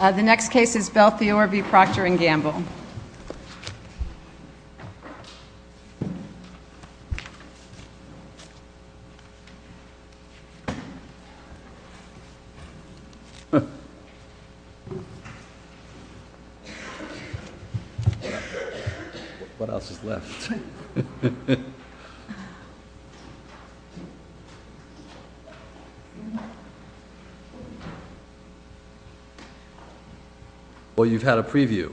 The next case is Belfiore v. Procter & Gamble. Well, you've had a preview.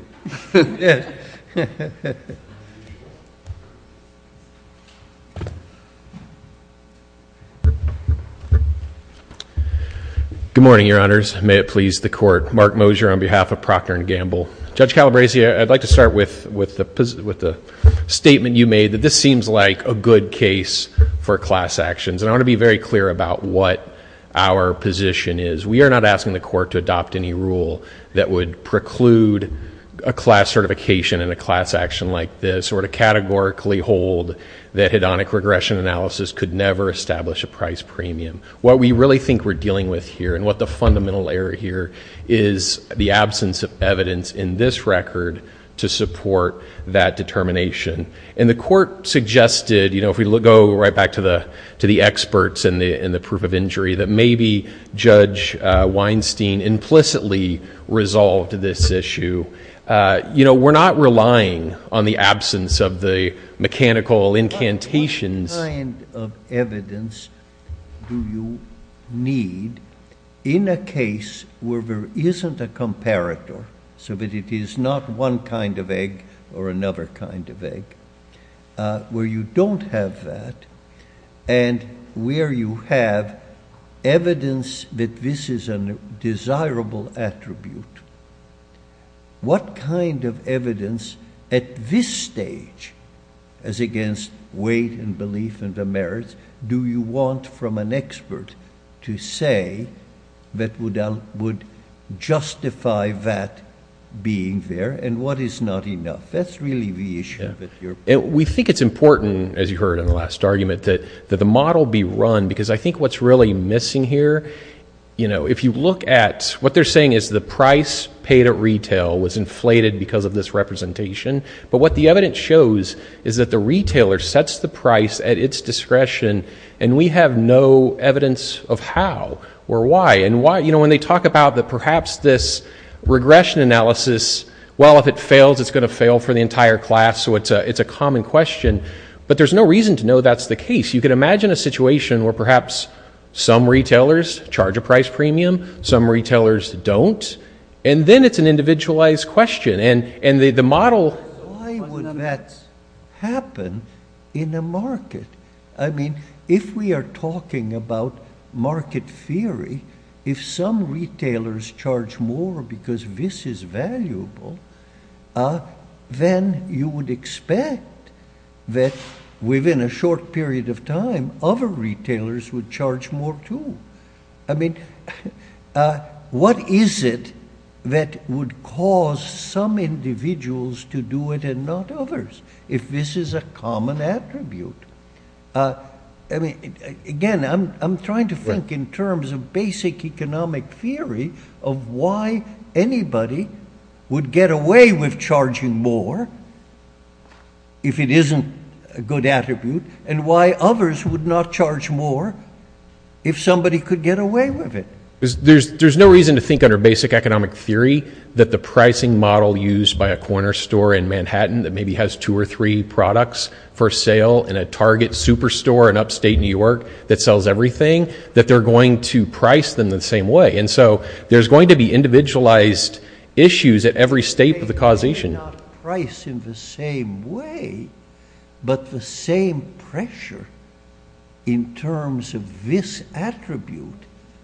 Good morning, Your Honors. May it please the Court. Mark Mosier on behalf of Procter & Gamble. Judge Calabresi, I'd like to start with the statement you made that this seems like a good case for class actions. And I want to be very clear about what our position is. We are not asking the Court to adopt any rule that would preclude a class certification in a class action like this, or to categorically hold that hedonic regression analysis could never establish a price premium. What we really think we're dealing with here, and what the fundamental error here, is the absence of evidence in this record to support that determination. And the Court suggested, you know, if we go right back to the experts and the proof of injury, that maybe Judge Weinstein implicitly resolved this issue. You know, we're not relying on the absence of the mechanical incantations. What kind of evidence do you need in a case where there isn't a comparator, so that it is not one kind of egg or another kind of egg, where you don't have that, and where you have evidence that this is a desirable attribute? What kind of evidence at this stage, as against weight and belief and the merits, do you want from an expert to say that would justify that being there? And what is not enough? That's really the issue. We think it's important, as you heard in the last argument, that the model be run, because I think what's really missing here, you know, if you look at what they're saying is the price paid at retail was inflated because of this representation. But what the evidence shows is that the retailer sets the price at its discretion, and we have no evidence of how or why. And, you know, when they talk about perhaps this regression analysis, well, if it fails, it's going to fail for the entire class, so it's a common question. But there's no reason to know that's the case. You can imagine a situation where perhaps some retailers charge a price premium, some retailers don't, and then it's an individualized question, and the model... Why would that happen in a market? I mean, if we are talking about market theory, if some retailers charge more because this is valuable, then you would expect that within a short period of time other retailers would charge more too. I mean, what is it that would cause some individuals to do it and not others, if this is a common attribute? I mean, again, I'm trying to think in terms of basic economic theory of why anybody would get away with charging more if it isn't a good attribute and why others would not charge more if somebody could get away with it. There's no reason to think under basic economic theory that the pricing model used by a corner store in Manhattan that maybe has two or three products for sale in a target superstore in upstate New York that sells everything, that they're going to price them the same way. And so there's going to be individualized issues at every state for the causation. It's not price in the same way, but the same pressure in terms of this attribute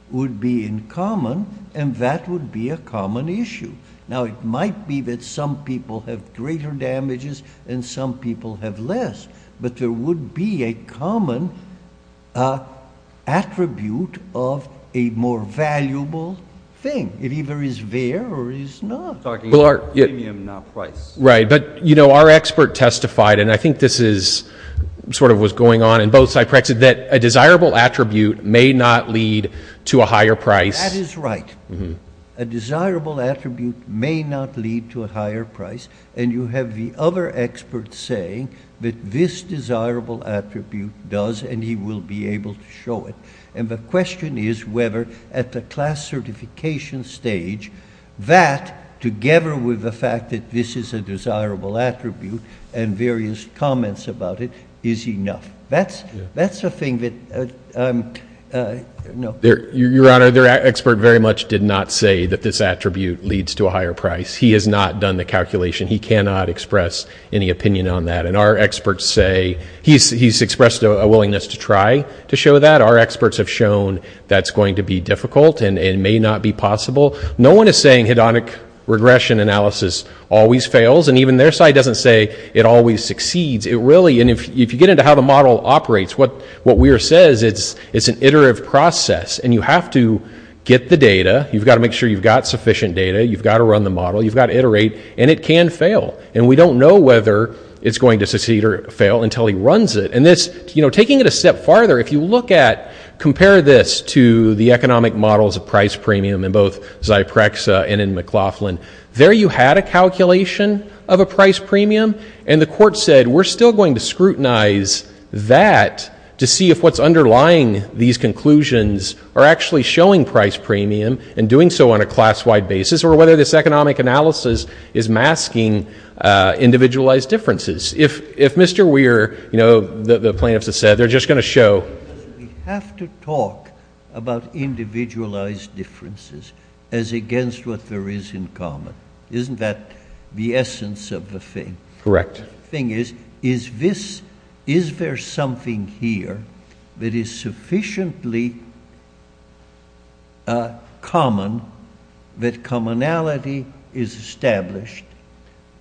would be in common, and that would be a common issue. Now, it might be that some people have greater damages and some people have less, but there would be a common attribute of a more valuable thing. It either is there or is not. I'm talking about premium, not price. Right, but, you know, our expert testified, and I think this is sort of what's going on in both side practices, that a desirable attribute may not lead to a higher price. That is right. A desirable attribute may not lead to a higher price, and you have the other expert saying that this desirable attribute does, and he will be able to show it. And the question is whether at the class certification stage that, together with the fact that this is a desirable attribute and various comments about it, is enough. That's the thing that, you know. Your Honor, the expert very much did not say that this attribute leads to a higher price. He has not done the calculation. He cannot express any opinion on that. And our experts say he's expressed a willingness to try to show that. Our experts have shown that's going to be difficult and may not be possible. No one is saying hedonic regression analysis always fails, and even their side doesn't say it always succeeds. It really, and if you get into how the model operates, what Weir says, it's an iterative process, and you have to get the data. You've got to make sure you've got sufficient data. You've got to run the model. You've got to iterate, and it can fail. And we don't know whether it's going to succeed or fail until he runs it. And this, you know, taking it a step farther, if you look at, compare this to the economic models of price premium in both Zyprexa and in McLaughlin, there you had a calculation of a price premium, and the court said we're still going to scrutinize that to see if what's underlying these conclusions are actually showing price premium and doing so on a class-wide basis, or whether this economic analysis is masking individualized differences. If Mr. Weir, you know, the plaintiffs have said they're just going to show. We have to talk about individualized differences as against what there is in common. Isn't that the essence of the thing? Correct. The thing is, is this, is there something here that is sufficiently common that commonality is established,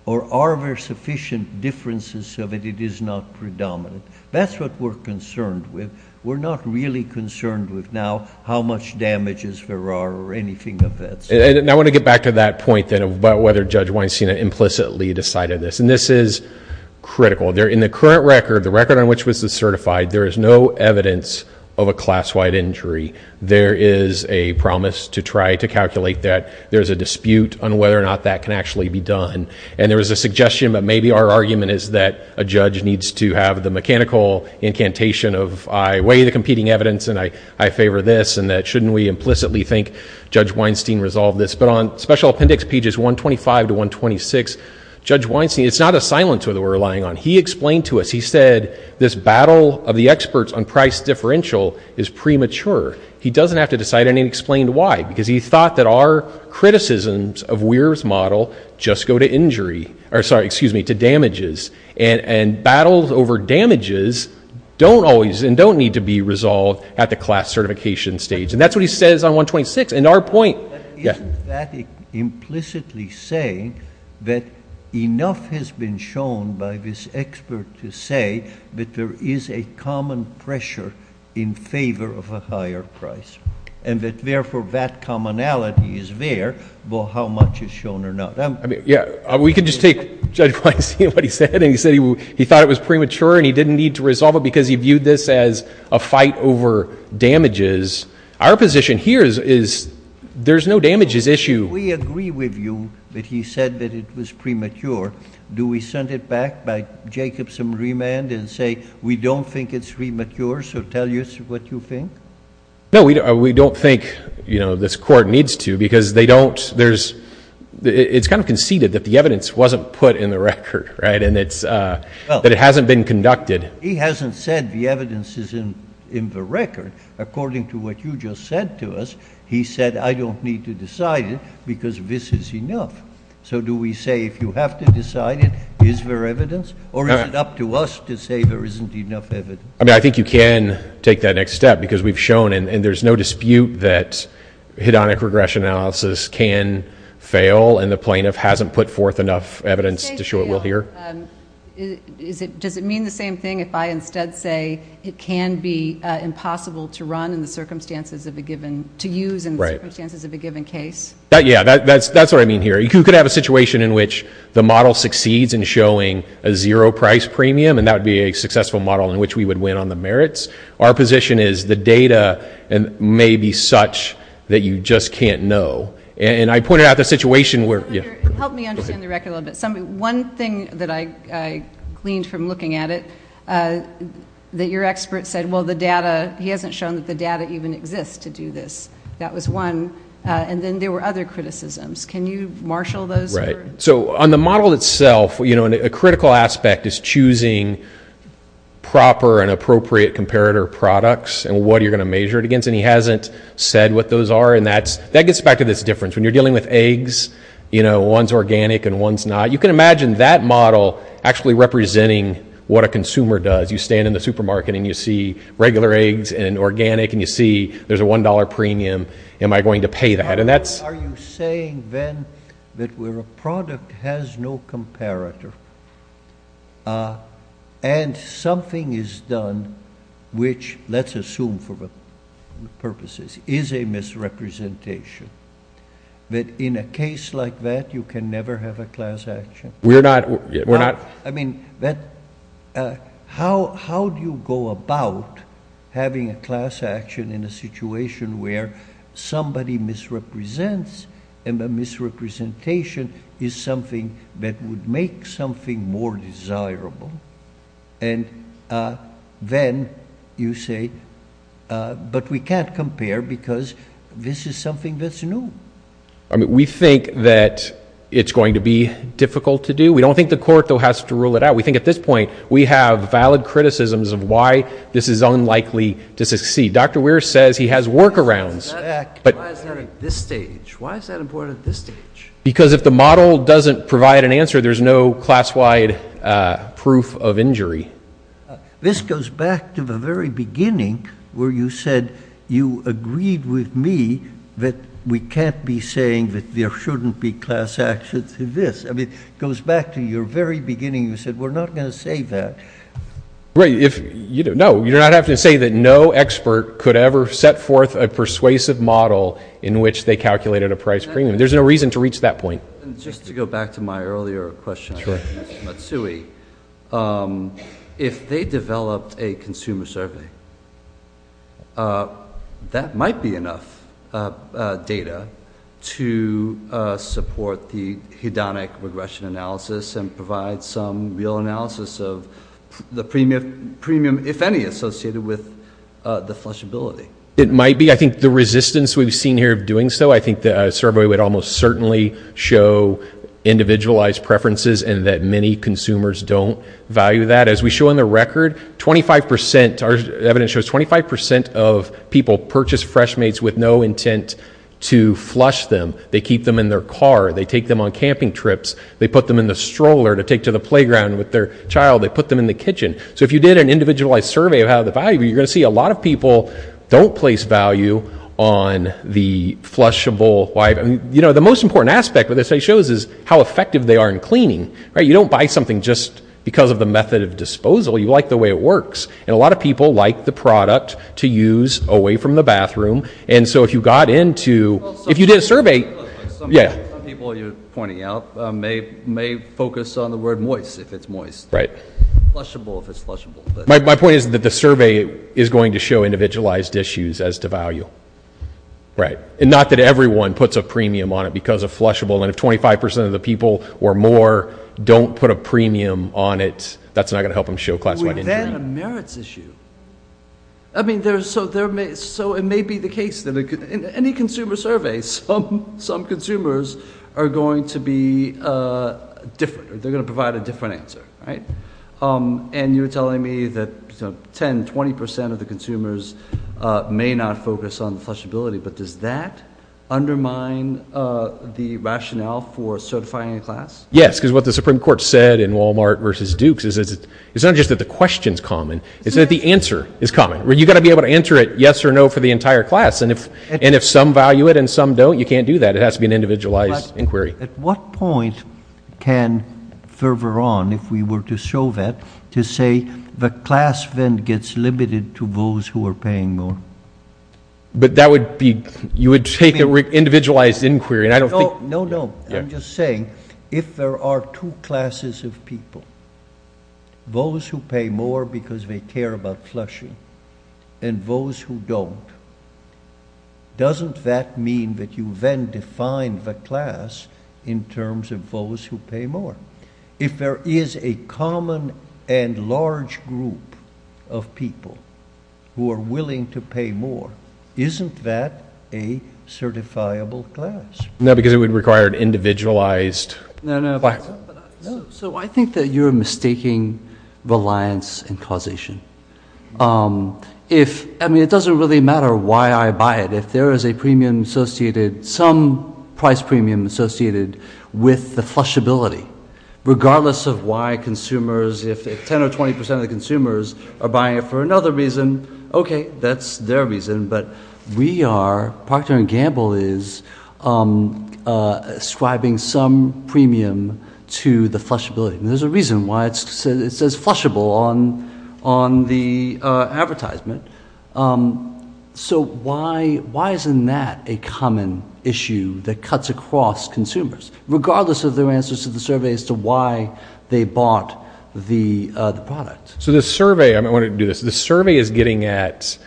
or are there sufficient differences so that it is not predominant? That's what we're concerned with. We're not really concerned with now how much damages there are or anything of that sort. And I want to get back to that point then about whether Judge Weinstein implicitly decided this. And this is critical. In the current record, the record on which this was certified, there is no evidence of a class-wide injury. There is a promise to try to calculate that. There's a dispute on whether or not that can actually be done. And there was a suggestion that maybe our argument is that a judge needs to have the mechanical incantation of I weigh the competing evidence and I favor this, and that shouldn't we implicitly think Judge Weinstein resolved this. But on Special Appendix Pages 125 to 126, Judge Weinstein, it's not a silencer that we're relying on. He explained to us, he said this battle of the experts on price differential is premature. He doesn't have to decide, and he explained why, because he thought that our criticisms of Weir's model just go to injury or, sorry, excuse me, to damages. And battles over damages don't always and don't need to be resolved at the class certification stage. And that's what he says on 126. And our point ‑‑ Isn't that implicitly saying that enough has been shown by this expert to say that there is a common pressure in favor of a higher price and that therefore that commonality is there, but how much is shown or not? I mean, yeah, we can just take Judge Weinstein and what he said, and he said he thought it was premature and he didn't need to resolve it because he viewed this as a fight over damages. Our position here is there's no damages issue. We agree with you that he said that it was premature. Do we send it back by Jacobson remand and say we don't think it's premature, so tell us what you think? No, we don't think, you know, this court needs to because they don't, there's, it's kind of conceded that the evidence wasn't put in the record, right, and that it hasn't been conducted. He hasn't said the evidence is in the record. According to what you just said to us, he said I don't need to decide it because this is enough. So do we say if you have to decide it, is there evidence, or is it up to us to say there isn't enough evidence? I mean, I think you can take that next step because we've shown, and there's no dispute that hedonic regression analysis can fail, and the plaintiff hasn't put forth enough evidence to show it will here. Does it mean the same thing if I instead say it can be impossible to run in the circumstances of a given, to use in the circumstances of a given case? Yeah, that's what I mean here. You could have a situation in which the model succeeds in showing a zero price premium, and that would be a successful model in which we would win on the merits. Our position is the data may be such that you just can't know. And I pointed out the situation where, yeah. Help me understand the record a little bit. One thing that I gleaned from looking at it, that your expert said, well, the data, he hasn't shown that the data even exists to do this. That was one. And then there were other criticisms. Can you marshal those? Right. So on the model itself, you know, a critical aspect is choosing proper and appropriate comparator products and what you're going to measure it against. And he hasn't said what those are, and that gets back to this difference. When you're dealing with eggs, you know, one's organic and one's not. You can imagine that model actually representing what a consumer does. You stand in the supermarket and you see regular eggs and organic, and you see there's a $1 premium. Am I going to pay that? Are you saying then that where a product has no comparator and something is done which, let's assume for purposes, is a misrepresentation, that in a case like that you can never have a class action? We're not. I mean, how do you go about having a class action in a situation where somebody misrepresents and the misrepresentation is something that would make something more desirable? And then you say, but we can't compare because this is something that's new. I mean, we think that it's going to be difficult to do. We don't think the court, though, has to rule it out. We think at this point we have valid criticisms of why this is unlikely to succeed. Dr. Weir says he has workarounds. Why is that at this stage? Why is that important at this stage? Because if the model doesn't provide an answer, there's no class-wide proof of injury. This goes back to the very beginning where you said you agreed with me that we can't be saying that there shouldn't be class action to this. I mean, it goes back to your very beginning. You said we're not going to say that. No, you're not having to say that no expert could ever set forth a persuasive model in which they calculated a price premium. There's no reason to reach that point. Just to go back to my earlier question on Matsui, if they developed a consumer survey, that might be enough data to support the hedonic regression analysis and provide some real analysis of the premium, if any, associated with the flushability. It might be. I think the resistance we've seen here of doing so, I think the survey would almost certainly show individualized preferences and that many consumers don't value that. As we show in the record, our evidence shows 25% of people purchase Freshmates with no intent to flush them. They keep them in their car. They take them on camping trips. They put them in the stroller to take to the playground with their child. They put them in the kitchen. So if you did an individualized survey of how the value, you're going to see a lot of people don't place value on the flushable. The most important aspect of this shows is how effective they are in cleaning. You don't buy something just because of the method of disposal. You like the way it works. And a lot of people like the product to use away from the bathroom. And so if you got into, if you did a survey. Some people you're pointing out may focus on the word moist if it's moist. Right. Flushable if it's flushable. My point is that the survey is going to show individualized issues as to value. Right. And not that everyone puts a premium on it because of flushable. And if 25% of the people or more don't put a premium on it, that's not going to help them show classified injury. Then a merits issue. I mean, so it may be the case that in any consumer survey, some consumers are going to be different. They're going to provide a different answer. Right. And you're telling me that 10, 20% of the consumers may not focus on flushability, but does that undermine the rationale for certifying a class? Yes, because what the Supreme Court said in Walmart versus Dukes is it's not just that the question's common. It's that the answer is common. You've got to be able to answer it yes or no for the entire class. And if some value it and some don't, you can't do that. It has to be an individualized inquiry. At what point can further on, if we were to show that, to say the class then gets limited to those who are paying more? But that would be you would take an individualized inquiry. No, no. I'm just saying if there are two classes of people, those who pay more because they care about flushing and those who don't, doesn't that mean that you then define the class in terms of those who pay more? If there is a common and large group of people who are willing to pay more, isn't that a certifiable class? No, because it would require an individualized. So I think that you're mistaking reliance and causation. I mean, it doesn't really matter why I buy it. If there is a premium associated, some price premium associated with the flushability, regardless of why consumers, if 10 or 20% of the consumers are buying it for another reason, okay, that's their reason. But we are, Procter & Gamble is ascribing some premium to the flushability. And there's a reason why it says flushable on the advertisement. So why isn't that a common issue that cuts across consumers, regardless of their answers to the survey as to why they bought the product? So the survey, I want to do this, the survey is getting at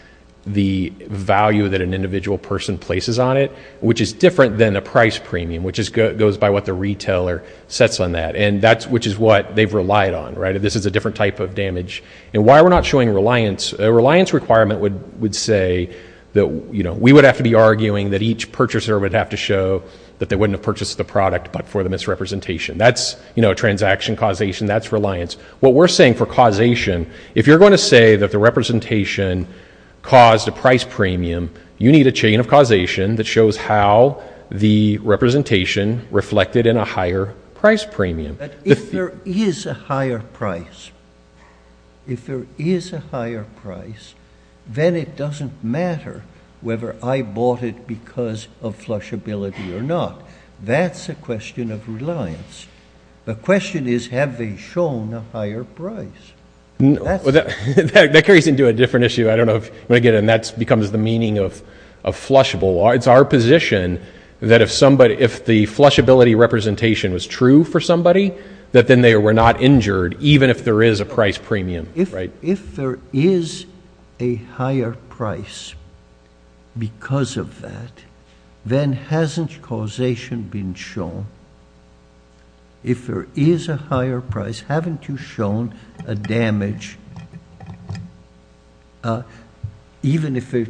the value that an individual person places on it, which is different than a price premium, which goes by what the retailer sets on that. And that's, which is what they've relied on, right? This is a different type of damage. And why we're not showing reliance, a reliance requirement would say that we would have to be arguing that each purchaser would have to show that they wouldn't have purchased the product, but for the misrepresentation. That's a transaction causation. That's reliance. What we're saying for causation, if you're going to say that the representation caused a price premium, you need a chain of causation that shows how the representation reflected in a higher price premium. If there is a higher price, if there is a higher price, then it doesn't matter whether I bought it because of flushability or not. That's a question of reliance. The question is, have they shown a higher price? That carries into a different issue. I don't know if I get it. And that's becomes the meaning of a flushable. It's our position that if somebody, if the flushability representation was true for somebody, that then they were not injured. Even if there is a price premium, right? If there is a higher price because of that, then hasn't causation been shown. If there is a higher price, haven't you shown a damage even if it,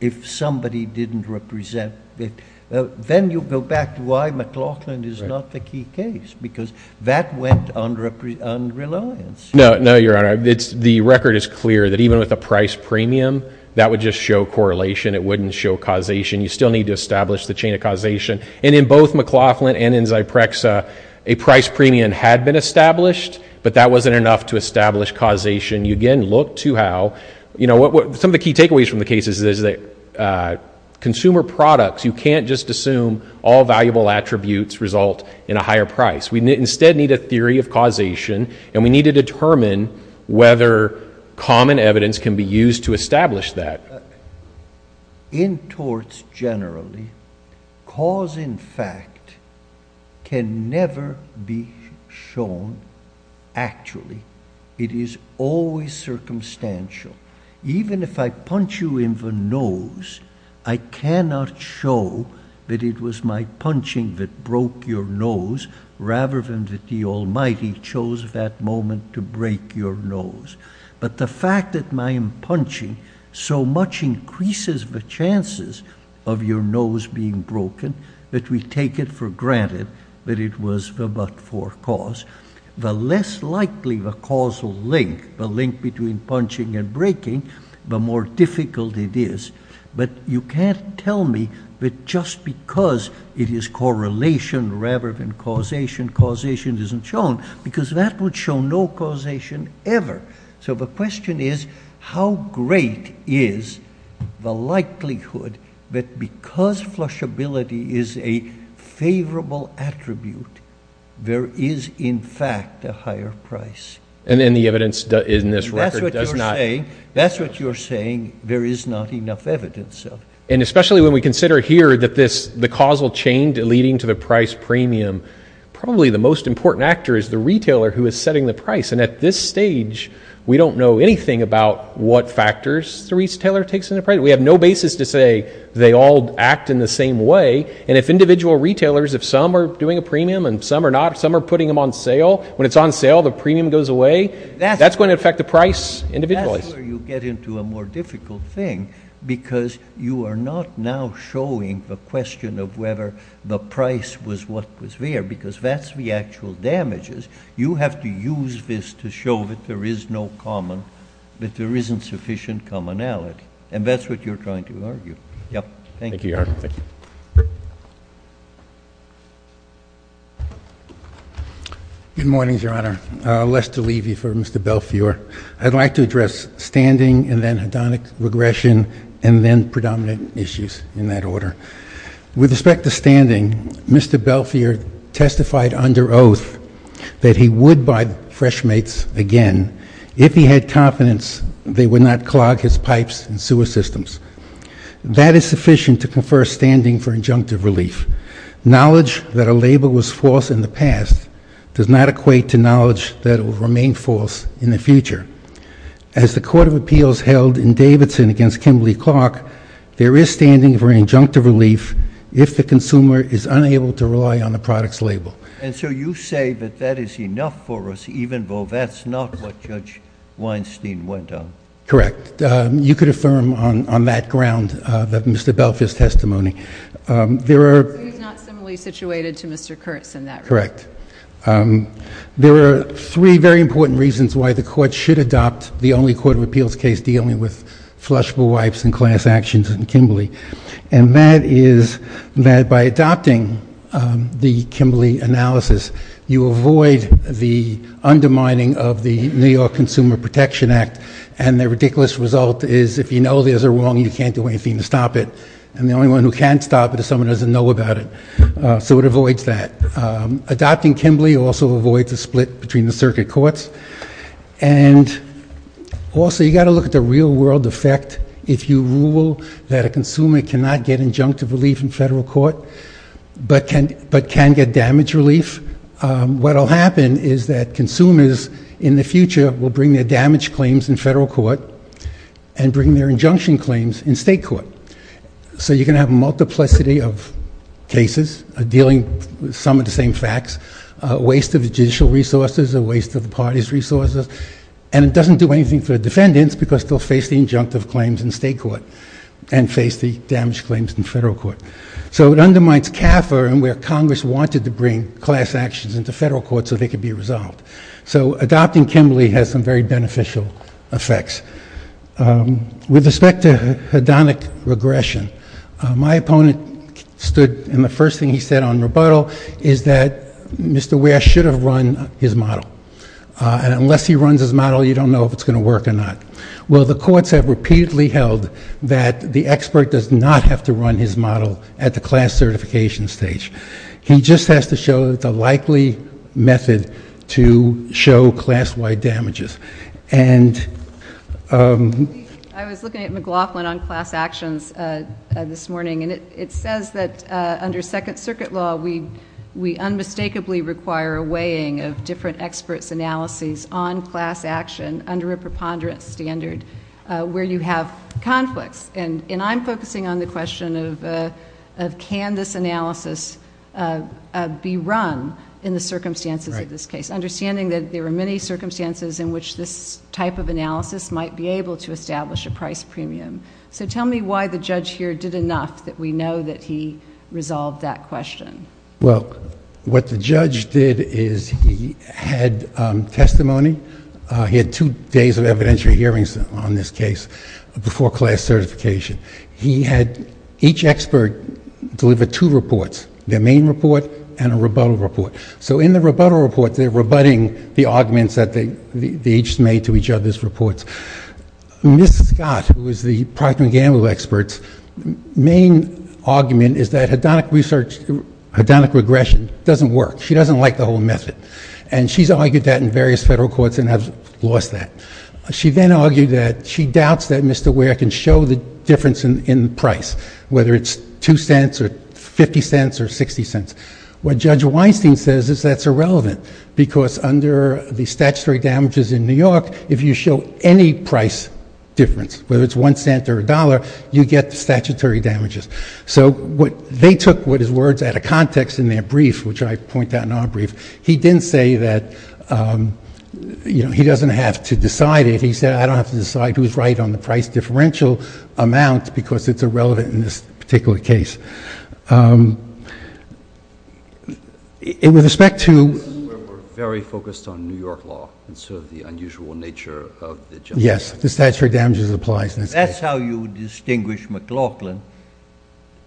if somebody didn't represent it, then you go back to why McLaughlin is not the key case because that went under unreliance. No, no, your honor. It's the record is clear that even with a price premium, that would just show correlation. It wouldn't show causation. You still need to establish the chain of causation. And in both McLaughlin and in Zyprexa, a price premium had been established, but that wasn't enough to establish causation. You again look to how, you know, some of the key takeaways from the cases is that consumer products, you can't just assume all valuable attributes result in a higher price. We instead need a theory of causation and we need to determine whether common evidence can be used to establish that. In torts generally, cause in fact can never be shown. Actually, it is always circumstantial. Even if I punch you in the nose, I cannot show that it was my punching that broke your nose rather than the almighty chose that moment to break your nose. But the fact that my punching so much increases the chances of your nose being broken that we take it for granted that it was the but for cause the less likely the causal link, the link between punching and breaking the more difficult it is. But you can't tell me that just because it is correlation rather than causation causation isn't shown because that would show no causation ever. So the question is how great is the likelihood that because flush ability is a favorable attribute, there is in fact a higher price. And then the evidence in this record does not. That's what you're saying. There is not enough evidence. And especially when we consider here that this the causal chain to leading to the price premium, probably the most important actor is the retailer who is setting the price. And at this stage, we don't know anything about what factors the retailer takes in the price. We have no basis to say they all act in the same way. And if individual retailers, if some are doing a premium and some are not, some are putting them on sale. When it's on sale, the premium goes away. That's going to affect the price. Individually, you get into a more difficult thing because you are not now showing the question of whether the price was what was there because that's the actual damages. You have to use this to show that there is no common, that there isn't sufficient commonality. And that's what you're trying to argue. Yep. Thank you. Good morning, Your Honor. Less to leave you for Mr. Belfiore. I'd like to address standing and then hedonic regression and then predominant issues in that order. With respect to standing, Mr. Belfiore testified under oath. That he would buy fresh mates. Again, if he had confidence, they would not clog his pipes and sewer systems. That is sufficient to confer standing for injunctive relief. Knowledge that a label was false in the past does not equate to knowledge that will remain false in the future. As the court of appeals held in Davidson against Kimberly Clark, there is standing for injunctive relief. If the consumer is unable to rely on the products label. And so you say that that is enough for us, even though that's not what judge Weinstein went on. Correct. You could affirm on, on that ground that Mr. Belfiore's testimony, there are not similarly situated to Mr. Kurtz in that. Correct. There are three very important reasons why the court should adopt the only court of appeals case dealing with flushable wipes and class actions and Kimberly. And that is that by adopting the Kimberly analysis, you avoid the undermining of the New York consumer protection act. And the ridiculous result is if you know, there's a wrong, you can't do anything to stop it. And the only one who can't stop it is someone who doesn't know about it. So it avoids that adopting Kimberly also avoid the split between the circuit courts. And also you got to look at the real world effect. If you will, that a consumer cannot get injunctive relief in federal court, but can, but can get damage relief. What will happen is that consumers in the future will bring their damage claims in federal court and bring their injunction claims in state court. So you're going to have a multiplicity of cases dealing with some of the same facts, a waste of judicial resources, a waste of the party's resources. And it doesn't do anything for defendants because they'll face the injunctive claims in state court and face the damage claims in federal court. So it undermines CAFA and where Congress wanted to bring class actions into federal court so they could be resolved. So adopting Kimberly has some very beneficial effects with respect to hedonic regression. My opponent stood in the first thing he said on rebuttal is that Mr. Ware should have run his model. And unless he runs his model, you don't know if it's going to work or not. Well, the courts have repeatedly held that the expert does not have to run his model at the class certification stage. He just has to show that the likely method to show class wide damages. And, um, I was looking at McLaughlin on class actions, uh, this morning and it, it says that, uh, under second circuit law, we, we unmistakably require a weighing of different experts, analysis on class action under a preponderance standard, uh, where you have conflicts. And, and I'm focusing on the question of, uh, of canvas analysis, uh, uh, be run in the circumstances of this case, understanding that there were many circumstances in which this type of analysis might be able to establish a price premium. So tell me why the judge here did enough that we know that he resolved that question. Well, what the judge did is he had, um, testimony, uh, he had two days of evidentiary hearings on this case before class certification. He had each expert deliver two reports, their main report and a rebuttal report. So in the rebuttal report, they're rebutting the arguments that they, they each made to each other's reports. Mrs. Scott, who was the procter and Gamble experts main argument is that hedonic research, hedonic regression doesn't work. She doesn't like the whole method. And she's argued that in various federal courts and have lost that. She then argued that she doubts that Mr. Ware can show the difference in, in price, whether it's 2 cents or 50 cents or 60 cents. What judge Weinstein says is that's irrelevant because under the statutory damages in New York, if you show any price difference, whether it's 1 cent or a dollar, you get the statutory damages. So what they took, what his words at a context in their brief, which I point out in our brief, he didn't say that, you know, he doesn't have to decide it. He said, I don't have to decide who's right on the price differential amount because it's irrelevant in this particular case. It was respect to very focused on New York law. And so the unusual nature of the, yes, the statutory damages applies. That's how you distinguish McLaughlin.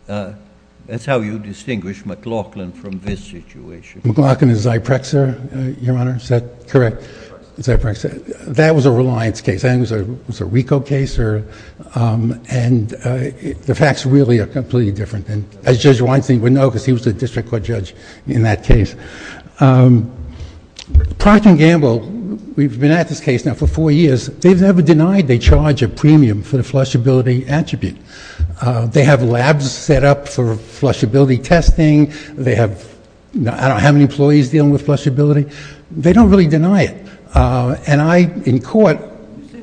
That's how you distinguish McLaughlin from this situation. McLaughlin is Zyprexa, Your Honor. Is that correct? Zyprexa. That was a reliance case. I think it was a, it was a Rico case or, um, and, uh, the facts really are completely different than as judge Weinstein would know, because he was a district court judge in that case. Um, Procter and Gamble, we've been at this case now for four years. They've never denied. They charge a premium for the flushability attribute. Uh, they have labs set up for flushability testing. They have, I don't have any employees dealing with flushability. They don't really deny it. Uh, and I, in court,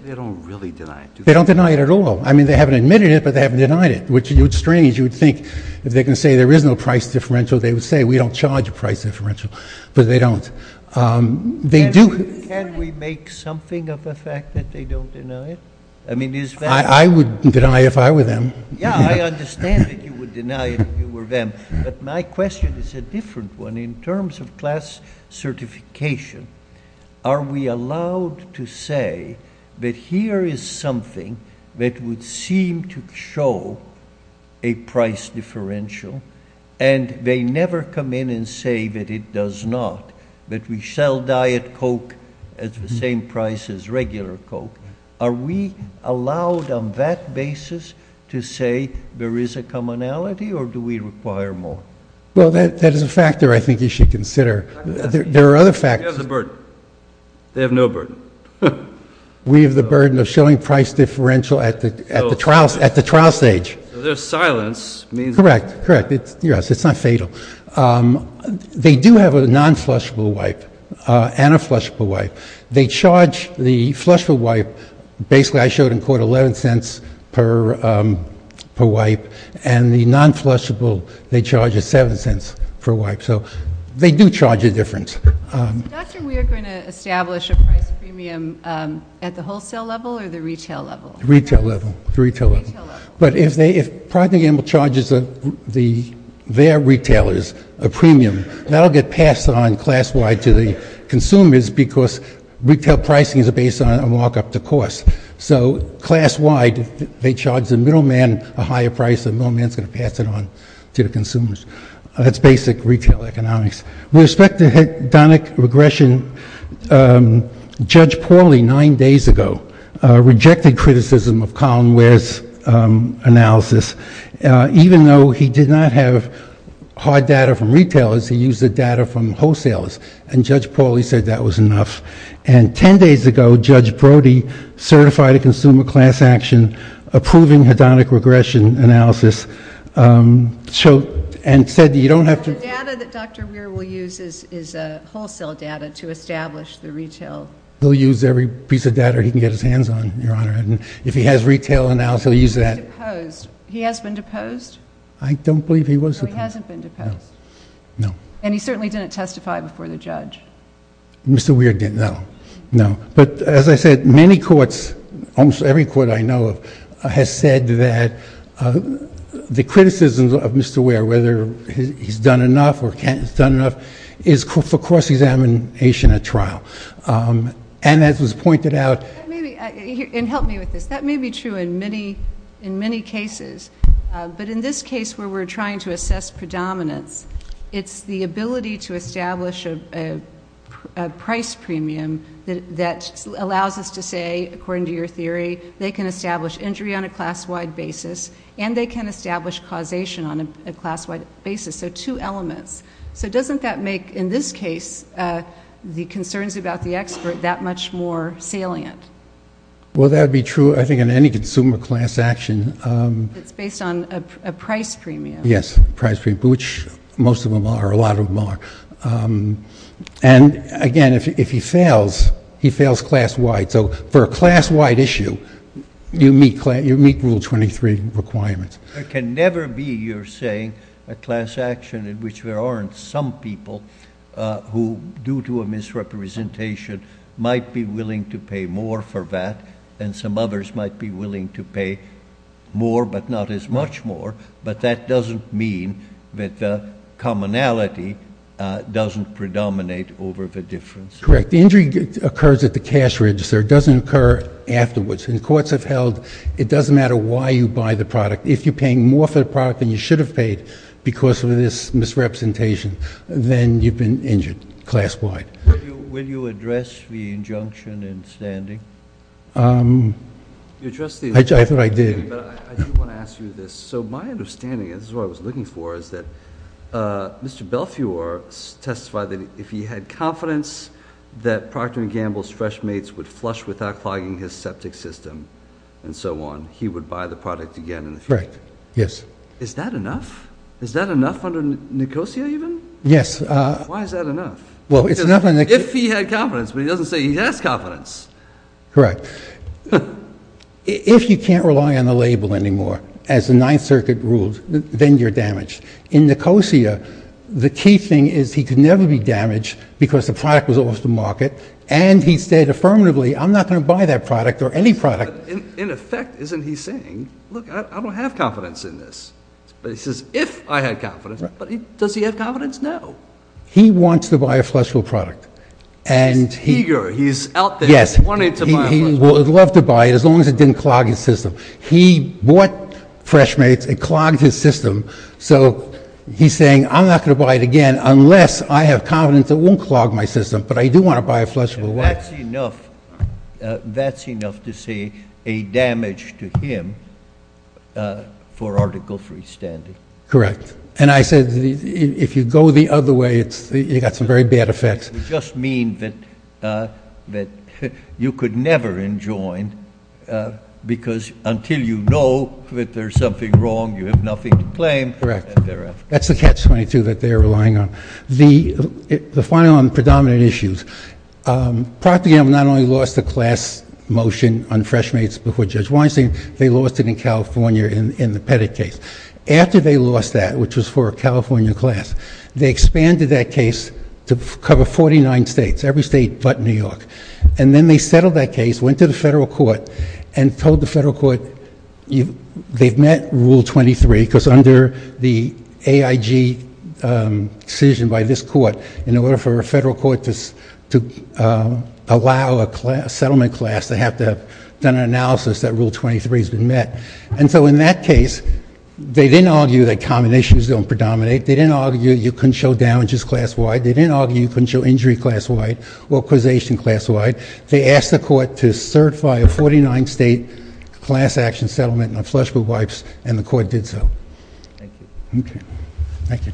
they don't really deny it. They don't deny it at all. I mean, they haven't admitted it, but they haven't denied it, which is strange. You would think if they can say there is no price differential, they would say, we don't charge a price differential, but they don't. Um, they do. Can we make something of the fact that they don't deny it? I mean, I would deny if I were them. Yeah. I understand that you would deny it if you were them. But my question is a different one. In terms of class certification, are we allowed to say that here is something that would seem to show a price differential and they never come in and say that it does not, that we sell diet Coke at the same price as regular Coke. Are we allowed on that basis to say there is a commonality or do we require more? Well, that is a factor I think you should consider. There are other factors. They have the burden. They have no burden. We have the burden of showing price differential at the, at the trials, at the trial stage. There's silence. Correct. Correct. It's not fatal. Um, they do have a non-flushable wipe, uh, and a flushable wipe. They charge the flushable wipe. Basically I showed in court 11 cents per, um, per wipe. And the non-flushable, they charge a seven cents per wipe. So they do charge a difference. Um, doctor, we are going to establish a price premium, um, at the wholesale level or the retail level, retail level, retail level. But if they, if probably gamble charges, uh, the, their retailers, a premium that'll get passed on class wide to the consumers because retail pricing is based on a markup to cost. So class wide, they charge the middleman a higher price. The middleman's going to pass it on to the consumers. That's basic retail economics. With respect to hedonic regression, um, Judge Pauly, nine days ago, uh, rejected criticism of Colin Ware's, um, analysis. Uh, even though he did not have hard data from retailers, he used the data from wholesalers. And Judge Pauly said that was enough. And 10 days ago, Judge Brody certified a consumer class action, approving hedonic regression analysis. Um, so, and said, you don't have to. The data that Dr. Weir will use is, is a wholesale data to establish the retail. He'll use every piece of data he can get his hands on, Your Honor. And if he has retail analysis, he'll use that. He has been deposed. I don't believe he was. He hasn't been deposed. No. And he certainly didn't testify before the judge. Mr. Weir didn't. No, no. But as I said, many courts, almost every court I know of, uh, has said that, the criticisms of Mr. whether he's done enough or can't, he's done enough, is for cross-examination at trial. Um, and as was pointed out. Maybe, and help me with this. That may be true in many, in many cases. Uh, but in this case where we're trying to assess predominance, it's the ability to establish a, a, a price premium that, that allows us to say, according to your theory, they can establish injury on a class-wide basis, and they can establish causation on a, a class-wide basis. So two elements. So doesn't that make, in this case, uh, the concerns about the expert that much more salient? Well, that would be true, I think, in any consumer class action. Um. It's based on a, a price premium. Yes. Price premium. Which most of them are, a lot of them are. Um, and again, if, if he fails, he fails class-wide. So for a class-wide issue, you meet, you meet Rule 23 requirements. There can never be, you're saying, a class action in which there aren't some people, uh, who, due to a misrepresentation, might be willing to pay more for that, and some others might be willing to pay more, but not as much more. But that doesn't mean that, uh, commonality, uh, doesn't predominate over the difference. Correct. Injury occurs at the cash register. It doesn't occur afterwards. And courts have held, it doesn't matter why you buy the product. If you're paying more for the product than you should have paid, because of this misrepresentation, then you've been injured, class-wide. Will you, will you address the injunction in standing? Um. You addressed the injunction in standing. I thought I did. But I, I do want to ask you this. So my understanding, and this is what I was looking for, is that, uh, Mr. Belfiore testified that if he had confidence, that Procter & Gamble's fresh mates would flush without clogging his septic system, and so on, he would buy the product again in the future. Correct. Yes. Is that enough? Is that enough under Nicosia, even? Yes, uh. Why is that enough? Well, it's not enough. If he had confidence, but he doesn't say he has confidence. Correct. If you can't rely on the label anymore, as the Ninth Circuit ruled, then you're damaged. In Nicosia, the key thing is he could never be damaged, because the product was off the market, and he said affirmatively, I'm not going to buy that product, or any product. But in effect, isn't he saying, look, I don't have confidence in this. But he says, if I had confidence. Right. But does he have confidence? No. He wants to buy a flushable product. And he. He's eager. He's out there. Yes. He wanted to buy a flushable. He would love to buy it, as long as it didn't clog his system. He bought fresh mates, it clogged his system, so he's saying, I'm not going to buy it again, unless I have confidence it won't clog my system. But I do want to buy a flushable one. That's enough. That's enough to say a damage to him, for article 3 standing. Correct. And I said, if you go the other way, you've got some very bad effects. You just mean that you could never enjoin, because until you know that there's something wrong, you have nothing to claim. Correct. That's the catch-22 that they're relying on. The final on predominant issues. Procter and Gamble not only lost the class motion on fresh mates before Judge Weinstein, they lost it in California in the Pettit case. After they lost that, which was for a California class, they expanded that case to cover 49 states, every state but New York. And then they settled that case, went to the federal court, and told the federal court, they've met rule 23, because under the AIG decision by this court, in order for a federal court to allow a settlement class to have to have done an analysis, that rule 23 has been met. And so in that case, they didn't argue that common issues don't predominate. They didn't argue you couldn't show damages class-wide. They didn't argue you couldn't show injury class-wide or causation class-wide. They asked the court to certify a 49-state class action settlement on flushable wipes, and the court did so. Thank you. Okay. Thank you.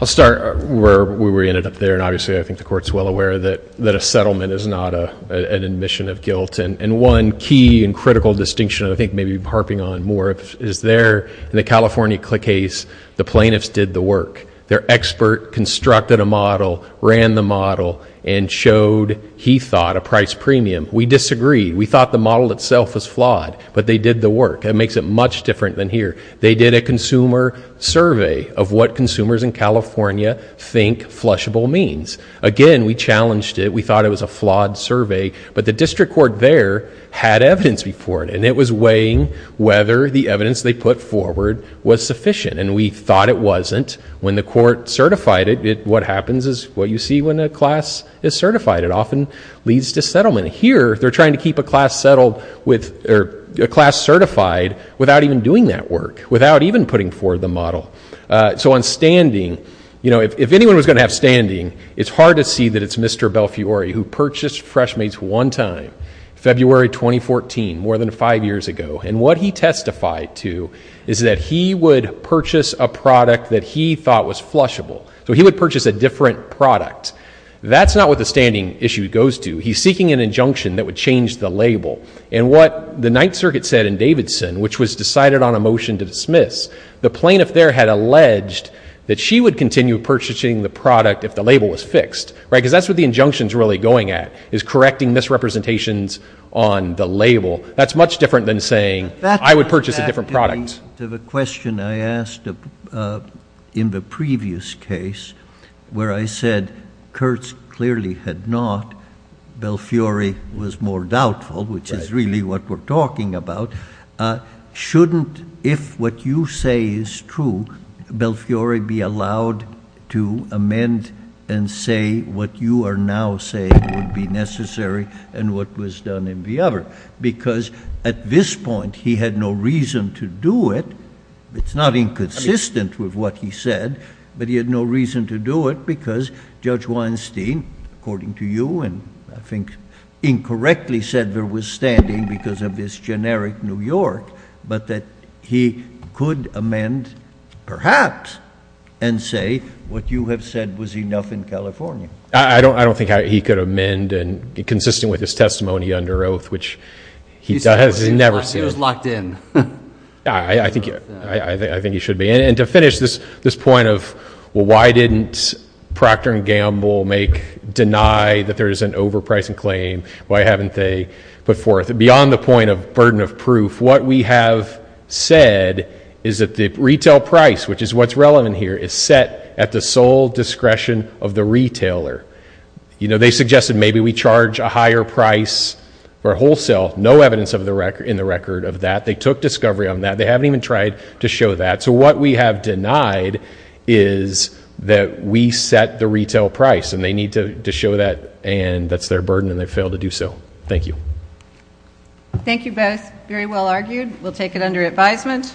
I'll start where we ended up there, and obviously I think the court's well aware that a settlement is not an admission of guilt. And one key and critical distinction, I think maybe harping on more, is there in the California case, the plaintiffs did the work. Their expert constructed a model, ran the model, and showed, he thought, a price premium. We disagreed. We thought the model itself was flawed. But they did the work. That makes it much different than here. They did a consumer survey of what consumers in California think flushable means. Again, we challenged it. We thought it was a flawed survey. But the district court there had evidence before it, and it was weighing whether the evidence they put forward was sufficient. And we thought it wasn't. When the court certified it, what happens is what you see when a class is certified. It often leads to settlement. Here they're trying to keep a class certified without even doing that work, without even putting forward the model. So on standing, if anyone was going to have standing, it's hard to see that it's Mr. Belfiore who purchased Freshmates one time, February 2014, more than five years ago. And what he testified to is that he would purchase a product that he thought was flushable. So he would purchase a different product. That's not what the standing issue goes to. He's seeking an injunction that would change the label. And what the Ninth Circuit said in Davidson, which was decided on a motion to dismiss, the plaintiff there had alleged that she would continue purchasing the product if the label was fixed. Because that's what the injunction is really going at, is correcting misrepresentations on the label. That's much different than saying, I would purchase a different product. To the question I asked in the previous case where I said, Kurtz clearly had not. Belfiore was more doubtful, which is really what we're talking about. Shouldn't, if what you say is true, Belfiore be allowed to amend and say what you are now saying would be necessary and what was done in the other? Because at this point he had no reason to do it. It's not inconsistent with what he said, but he had no reason to do it because Judge Weinstein, according to you, and I think incorrectly said there was standing because of this generic New York, but that he could amend perhaps and say what you have said was enough in California. I don't think he could amend and be consistent with his testimony under oath, which he never said. He was locked in. I think he should be. And to finish this point of why didn't Procter and Gamble make, deny that there is an overpricing claim? Why haven't they put forth? Beyond the point of burden of proof, what we have said is that the retail price, which is what's relevant here, is set at the sole discretion of the retailer. They suggested maybe we charge a higher price for wholesale. No evidence in the record of that. They took discovery on that. They haven't even tried to show that. So what we have denied is that we set the retail price, and they need to show that, and that's their burden, and they failed to do so. Thank you. Thank you both. Very well argued. We'll take it under advisement.